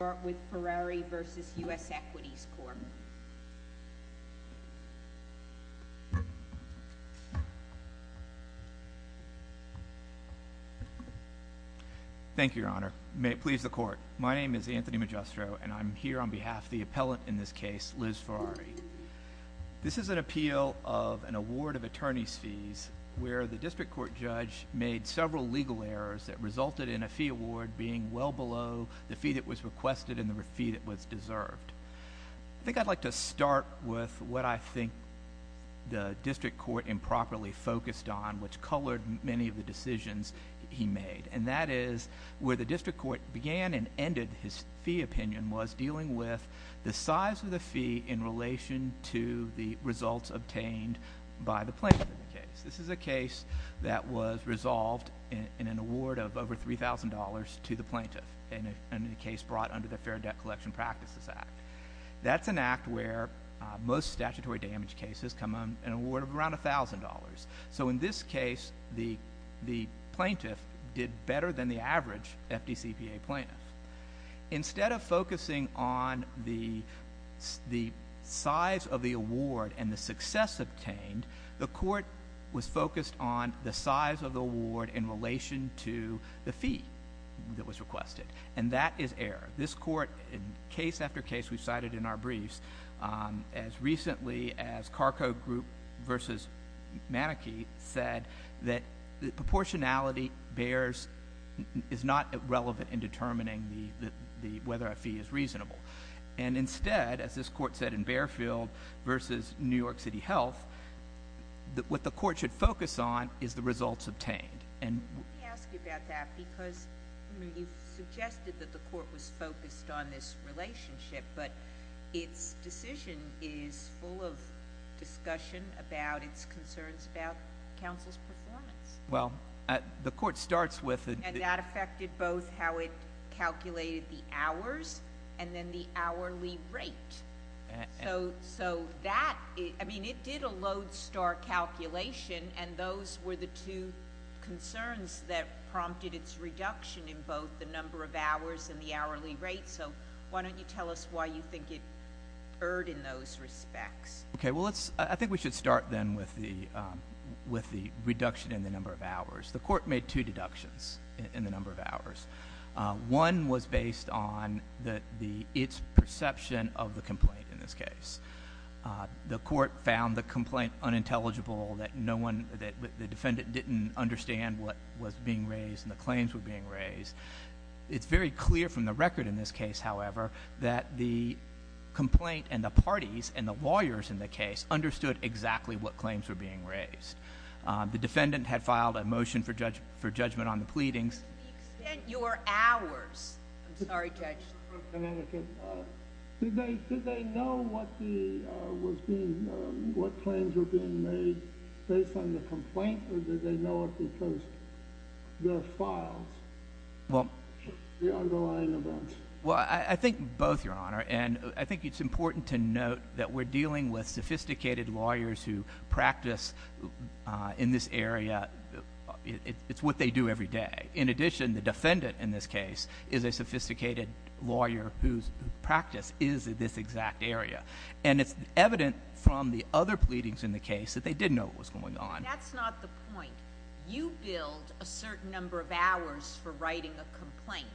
Thank you, Your Honor. May it please the Court. My name is Anthony Magistro, and I'm here on behalf of the appellant in this case, Liz Ferrari. This is an appeal of an award of attorney's fees where the district court judge made several legal errors that resulted in well below the fee that was requested and the fee that was deserved. I think I'd like to start with what I think the district court improperly focused on, which colored many of the decisions he made, and that is where the district court began and ended his fee opinion was dealing with the size of the fee in relation to the results obtained by the plaintiff in the case. This is a case that was resolved in an award of over $3,000 to the plaintiff in a case brought under the Fair Debt Collection Practices Act. That's an act where most statutory damage cases come on an award of around $1,000. So in this case, the plaintiff did better than the average FDCPA plaintiff. Instead of focusing on the size of the award and the success obtained, the court was focused on the size of the award in relation to the fee that was requested, and that is error. This court, in case after case we've cited in our briefs, as recently as Carco Group v. Manakee, said that the proportionality bears is not relevant in determining whether a fee is reasonable. And instead, as this court said in Barefield v. New York City Health, what the court should focus on is the results obtained. Let me ask you about that because you've suggested that the court was focused on this relationship, but its decision is full of discussion about its concerns about counsel's performance. Well, the court starts with— —the number of hours and then the hourly rate. So that—I mean, it did a Lodestar calculation, and those were the two concerns that prompted its reduction in both the number of hours and the hourly rate. So why don't you tell us why you think it erred in those respects? Okay. Well, let's—I think we should start then with the reduction in the number of hours. The court made two deductions in the number of hours. One was based on the—its perception of the complaint in this case. The court found the complaint unintelligible, that no one—that the defendant didn't understand what was being raised and the claims were being raised. It's very clear from the record in this case, however, that the complaint and the parties and the lawyers in the case understood exactly what claims were being raised. The defendant had filed a motion for judgment on the pleadings. To the extent your hours—I'm sorry, Judge. Mr. Connecticut, did they know what the—was being—what claims were being made based on the complaint, or did they know it because the files—the underlying events? Well, I think both, Your Honor. And I think it's important to note that we're dealing with sophisticated lawyers who practice in this area—it's what they do every day. In addition, the defendant in this case is a sophisticated lawyer whose practice is in this exact area. And it's evident from the other pleadings in the case that they did know what was going on. That's not the point. You billed a certain number of hours for writing a complaint.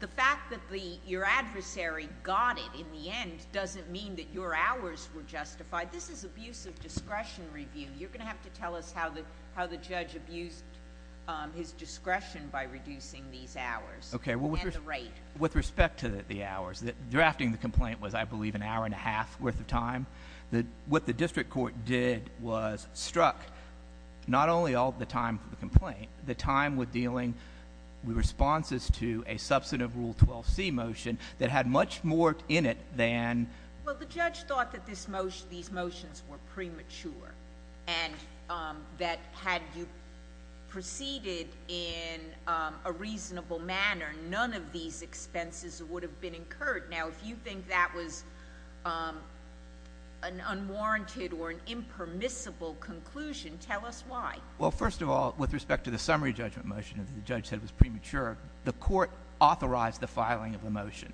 The fact that your adversary got it in the end doesn't mean that your hours were justified. This is abuse of discretion review. You're going to have to tell us how the judge abused his discretion by reducing these hours and the rate. With respect to the hours, drafting the complaint was, I believe, an hour and a half worth of not only all of the time for the complaint, the time with dealing with responses to a substantive Rule 12c motion that had much more in it than— Well, the judge thought that this motion—these motions were premature and that had you proceeded in a reasonable manner, none of these expenses would have been incurred. Now, if you think that was an unwarranted or an impermissible conclusion, tell us why. Well, first of all, with respect to the summary judgment motion that the judge said was premature, the court authorized the filing of the motion.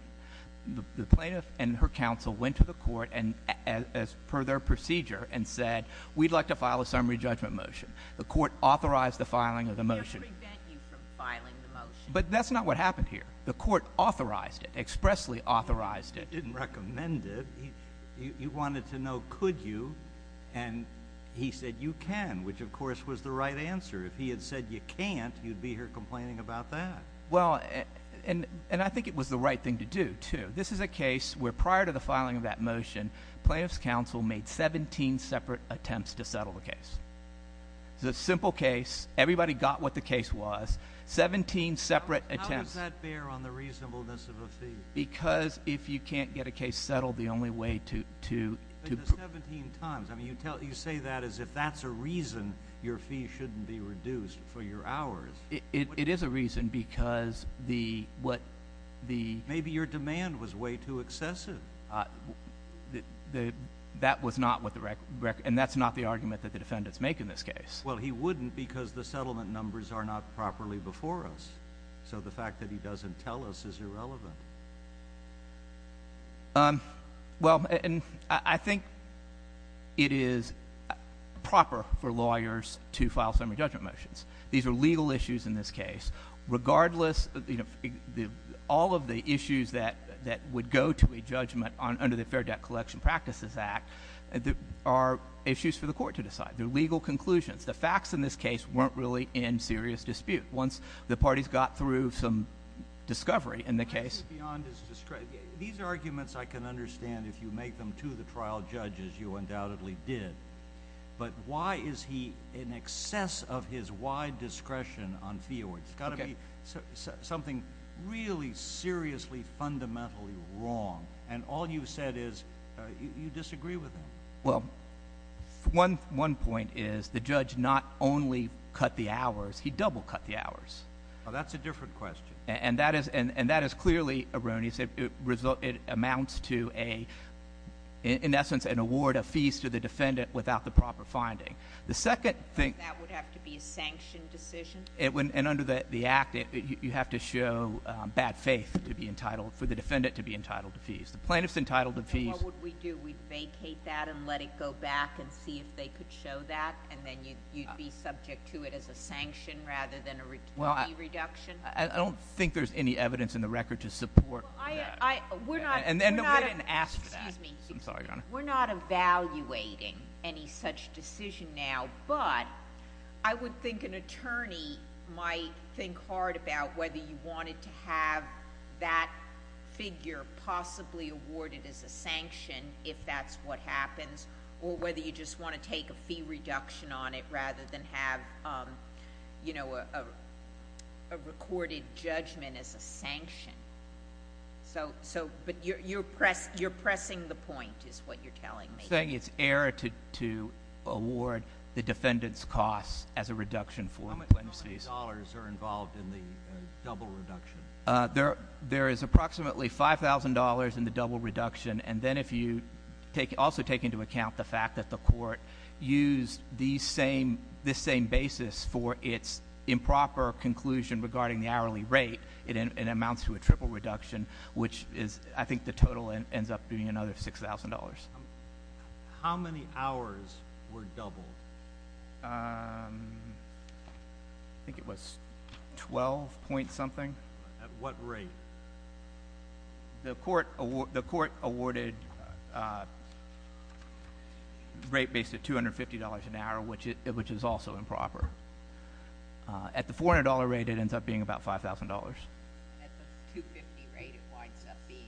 The plaintiff and her counsel went to the court and, as per their procedure, and said, we'd like to file a summary judgment motion. The court authorized the filing of the motion. We have to prevent you from filing the motion. But that's not what happened here. The court authorized it, expressly authorized it. The judge didn't recommend it. He wanted to know could you, and he said you can, which, of course, was the right answer. If he had said you can't, you'd be here complaining about that. Well, and I think it was the right thing to do, too. This is a case where prior to the filing of that motion, plaintiff's counsel made 17 separate attempts to settle the case. It's a simple case. Everybody got what the case was. 17 separate attempts— How does that bear on the reasonableness of a fee? Because if you can't get a case settled, the only way to— 17 times. I mean, you say that as if that's a reason your fee shouldn't be reduced for your hours. It is a reason because the— Maybe your demand was way too excessive. That was not what the—and that's not the argument that the defendants make in this case. Well, he wouldn't because the settlement numbers are not properly before us. So the fact that he doesn't tell us is irrelevant. Well, and I think it is proper for lawyers to file summary judgment motions. These are legal issues in this case. Regardless, all of the issues that would go to a judgment under the Fair Debt Collection Practices Act are issues for the court to decide. They're legal conclusions. The facts in this case weren't really in serious dispute. Once the parties got through some discovery in the case— Beyond his discretion. These arguments I can understand if you make them to the trial judge, as you undoubtedly did. But why is he in excess of his wide discretion on fee awards? It's got to be something really seriously, fundamentally wrong. And all you've said is you disagree with him. Well, one point is the judge not only cut the hours, he double-cut the hours. That's a different question. And that is clearly erroneous. It amounts to, in essence, an award of fees to the defendant without the proper finding. The second thing— That would have to be a sanctioned decision? And under the Act, you have to show bad faith for the defendant to be entitled to fees. The plaintiff's entitled to fees. And what would we do? We'd vacate that and let it go back and see if they could show that? And then you'd be subject to it as a sanction rather than a fee reduction? I don't think there's any evidence in the record to support that. We're not— And we didn't ask for that. Excuse me. I'm sorry, Your Honor. We're not evaluating any such decision now. But I would think an attorney might think hard about whether you wanted to have that figure possibly awarded as a sanction, if that's what happens, or whether you just want to take a fee reduction on it rather than have a recorded judgment as a sanction. But you're pressing the point, is what you're telling me. You're saying it's error to award the defendant's costs as a reduction for the plaintiff's fees. How many dollars are involved in the double reduction? There is approximately $5,000 in the double reduction. And then if you also take into account the fact that the court used this same basis for its improper conclusion regarding the hourly rate, it amounts to a triple reduction, which is—I think the total ends up being another $6,000. How many hours were doubled? I think it was 12 point something. At what rate? The court awarded a rate based at $250 an hour, which is also improper. At the $400 rate, it ends up being about $5,000. At the $250 rate, it winds up being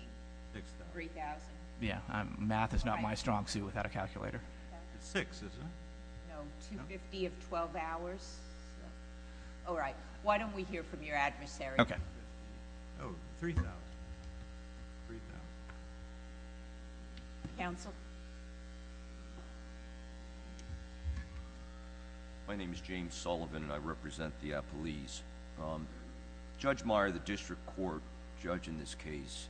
$3,000. Yes. Math is not my strong suit without a calculator. $6,000, is it? No, $250 of 12 hours. All right. Why don't we hear from your adversary? Okay. Oh, $3,000. $3,000. Counsel? My name is James Sullivan, and I represent the appellees. Judge Meyer, the district court judge in this case,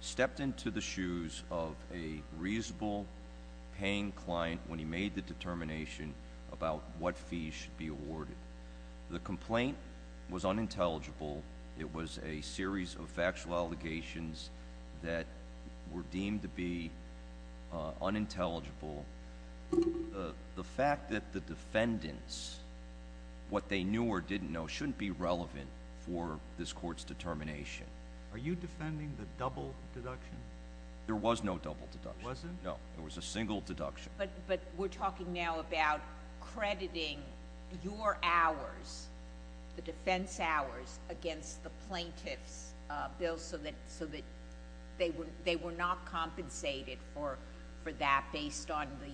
stepped into the shoes of a reasonable paying client when he made the determination about what fees should be awarded. The complaint was unintelligible. It was a series of factual allegations that were deemed to be unintelligible. The fact that the defendants, what they knew or didn't know, shouldn't be relevant for this court's determination. Are you defending the double deduction? There was no double deduction. There wasn't? No. There was a single deduction. But we're talking now about crediting your hours, the defense hours, against the plaintiff's bill, so that they were not compensated for that based on the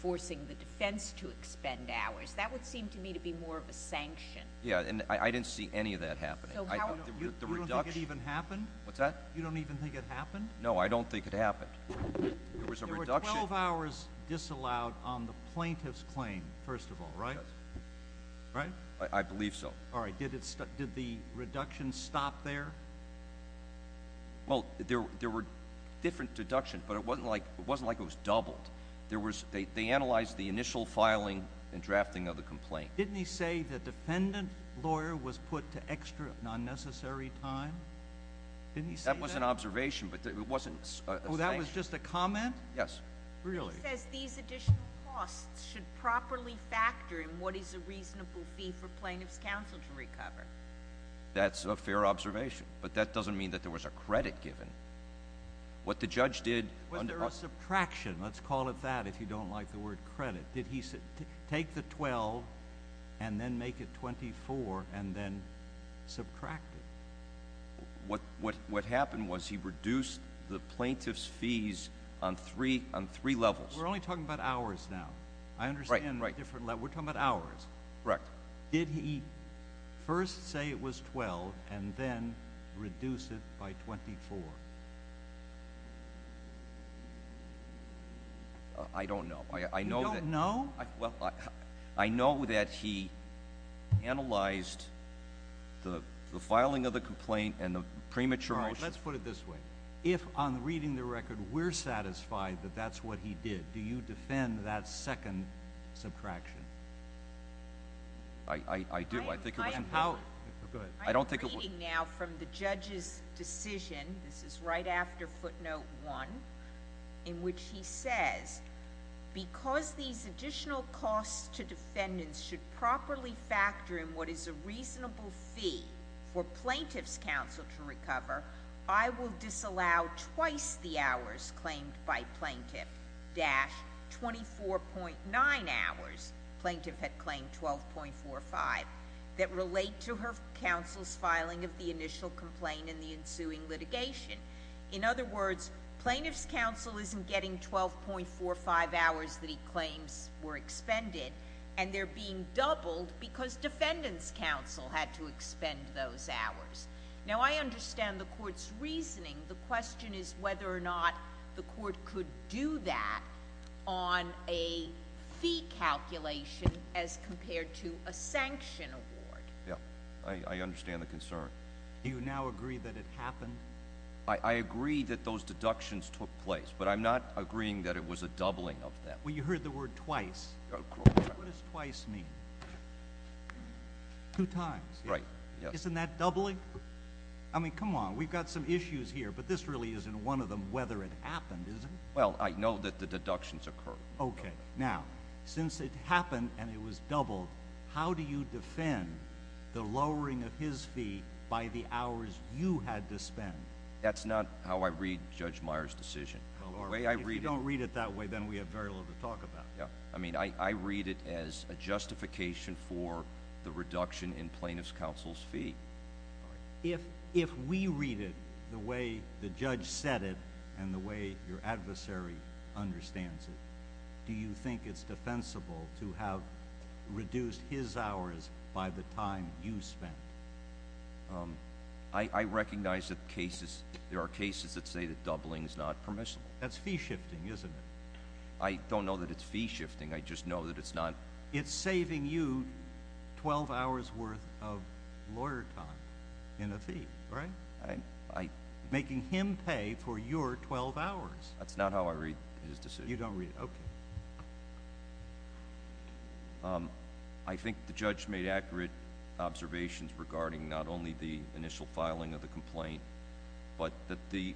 forcing the defense to expend hours. That would seem to me to be more of a sanction. Yes, and I didn't see any of that happening. You don't think it even happened? What's that? You don't even think it happened? No, I don't think it happened. There were 12 hours disallowed on the plaintiff's claim, first of all, right? Yes. Right? I believe so. All right. Did the reduction stop there? Well, there were different deductions, but it wasn't like it was doubled. They analyzed the initial filing and drafting of the complaint. Didn't he say the defendant lawyer was put to extra, non-necessary time? That was an observation, but it wasn't a sanction. Oh, that was just a comment? Yes. Really? He says these additional costs should properly factor in what is a reasonable fee for plaintiff's counsel to recover. That's a fair observation, but that doesn't mean that there was a credit given. What the judge did— Was there a subtraction? Let's call it that if you don't like the word credit. Did he take the 12 and then make it 24 and then subtract it? What happened was he reduced the plaintiff's fees on three levels. We're only talking about hours now. Right. We're talking about hours. Correct. Did he first say it was 12 and then reduce it by 24? I don't know. You don't know? I know that he analyzed the filing of the complaint and the premature— Let's put it this way. If, on reading the record, we're satisfied that that's what he did, do you defend that second subtraction? I do. I think it was important. I'm reading now from the judge's decision—this is right after footnote one— in which he says, because these additional costs to defendants should properly factor in what is a reasonable fee for plaintiff's counsel to recover, I will disallow twice the hours claimed by plaintiff—24.9 hours plaintiff had claimed 12.45— that relate to her counsel's filing of the initial complaint and the ensuing litigation. In other words, plaintiff's counsel isn't getting 12.45 hours that he claims were expended, and they're being doubled because defendant's counsel had to expend those hours. Now, I understand the court's reasoning. The question is whether or not the court could do that on a fee calculation as compared to a sanction award. Yes. I understand the concern. Do you now agree that it happened? I agree that those deductions took place, but I'm not agreeing that it was a doubling of them. Well, you heard the word twice. What does twice mean? Two times. Right. Isn't that doubling? I mean, come on. We've got some issues here, but this really isn't one of them whether it happened, is it? Well, I know that the deductions occurred. Okay. Now, since it happened and it was doubled, how do you defend the lowering of his fee by the hours you had to spend? That's not how I read Judge Meyer's decision. If you don't read it that way, then we have very little to talk about. I mean, I read it as a justification for the reduction in plaintiff's counsel's fee. If we read it the way the judge said it and the way your adversary understands it, do you think it's defensible to have reduced his hours by the time you spent? I recognize that there are cases that say that doubling is not permissible. That's fee shifting, isn't it? I don't know that it's fee shifting. I just know that it's not. It's saving you 12 hours' worth of lawyer time in a fee, right? Making him pay for your 12 hours. That's not how I read his decision. You don't read it. Okay. I think the judge made accurate observations regarding not only the initial filing of the complaint, but that the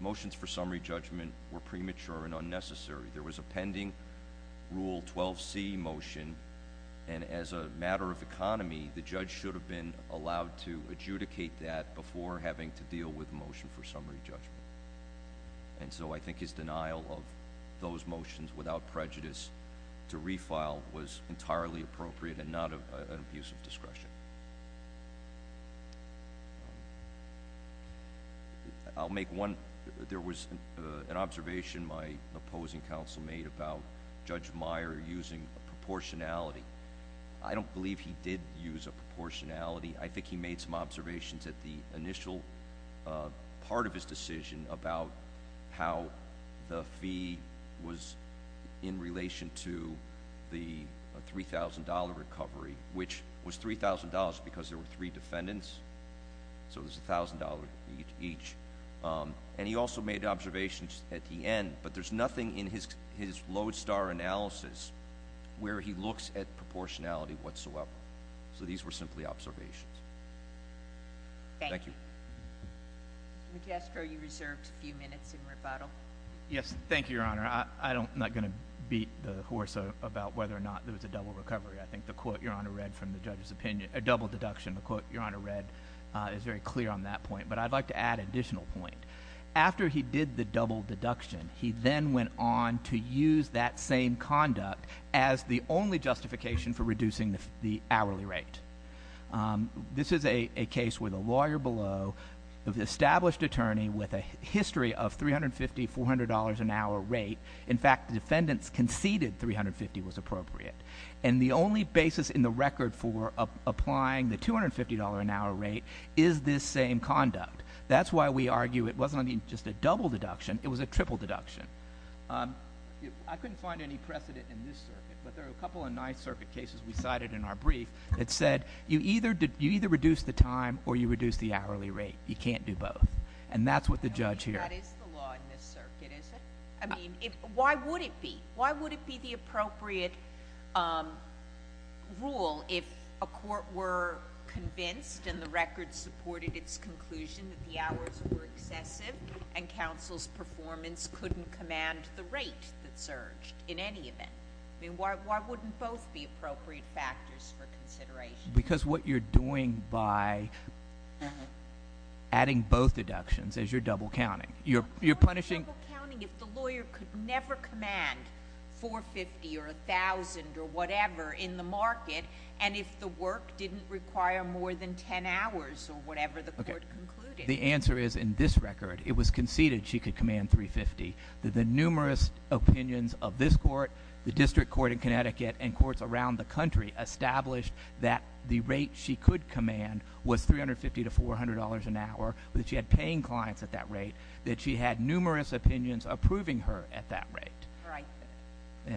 motions for summary judgment were premature and unnecessary. There was a pending Rule 12C motion, and as a matter of economy, the judge should have been allowed to adjudicate that before having to deal with a motion for summary judgment. I think his denial of those motions without prejudice to refile was entirely appropriate and not an abuse of discretion. There was an observation my opposing counsel made about Judge Meyer using a proportionality. I don't believe he did use a proportionality. I think he made some observations at the initial part of his decision about how the fee was in relation to the $3,000 recovery, which was $3,000 because there were three defendants, so it was $1,000 each. He also made observations at the end, but there's nothing in his lodestar analysis where he looks at proportionality whatsoever. These were simply observations. Thank you. Magistro, you reserved a few minutes in rebuttal. Yes. Thank you, Your Honor. I'm not going to beat the horse about whether or not there was a double recovery. I think the quote Your Honor read from the judge's opinion, a double deduction, the quote Your Honor read is very clear on that point, but I'd like to add an additional point. After he did the double deduction, he then went on to use that same conduct as the only justification for reducing the hourly rate. This is a case where the lawyer below, the established attorney with a history of $350, $400 an hour rate, in fact, the defendants conceded $350 was appropriate. And the only basis in the record for applying the $250 an hour rate is this same conduct. That's why we argue it wasn't, I mean, just a double deduction. It was a triple deduction. I couldn't find any precedent in this circuit, but there are a couple of Ninth Circuit cases we cited in our brief that said you either reduce the time or you reduce the hourly rate. You can't do both. And that's what the judge here – That is the law in this circuit, is it? I mean, why would it be? Why would it be the appropriate rule if a court were convinced and the record supported its conclusion that the hours were excessive and counsel's performance couldn't command the rate that surged in any event? I mean, why wouldn't both be appropriate factors for consideration? Because what you're doing by adding both deductions is you're double counting. You're punishing – A lawyer could never command $450 or $1,000 or whatever in the market and if the work didn't require more than 10 hours or whatever the court concluded. The answer is in this record it was conceded she could command $350. The numerous opinions of this court, the district court in Connecticut, and courts around the country established that the rate she could command was $350 to $400 an hour, that she had paying clients at that rate, that she had numerous opinions approving her at that rate. Right.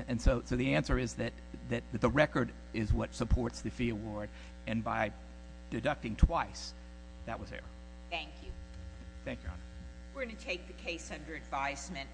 And so the answer is that the record is what supports the fee award and by deducting twice that was error. Thank you. Thank you, Your Honor. We're going to take the case under advisement.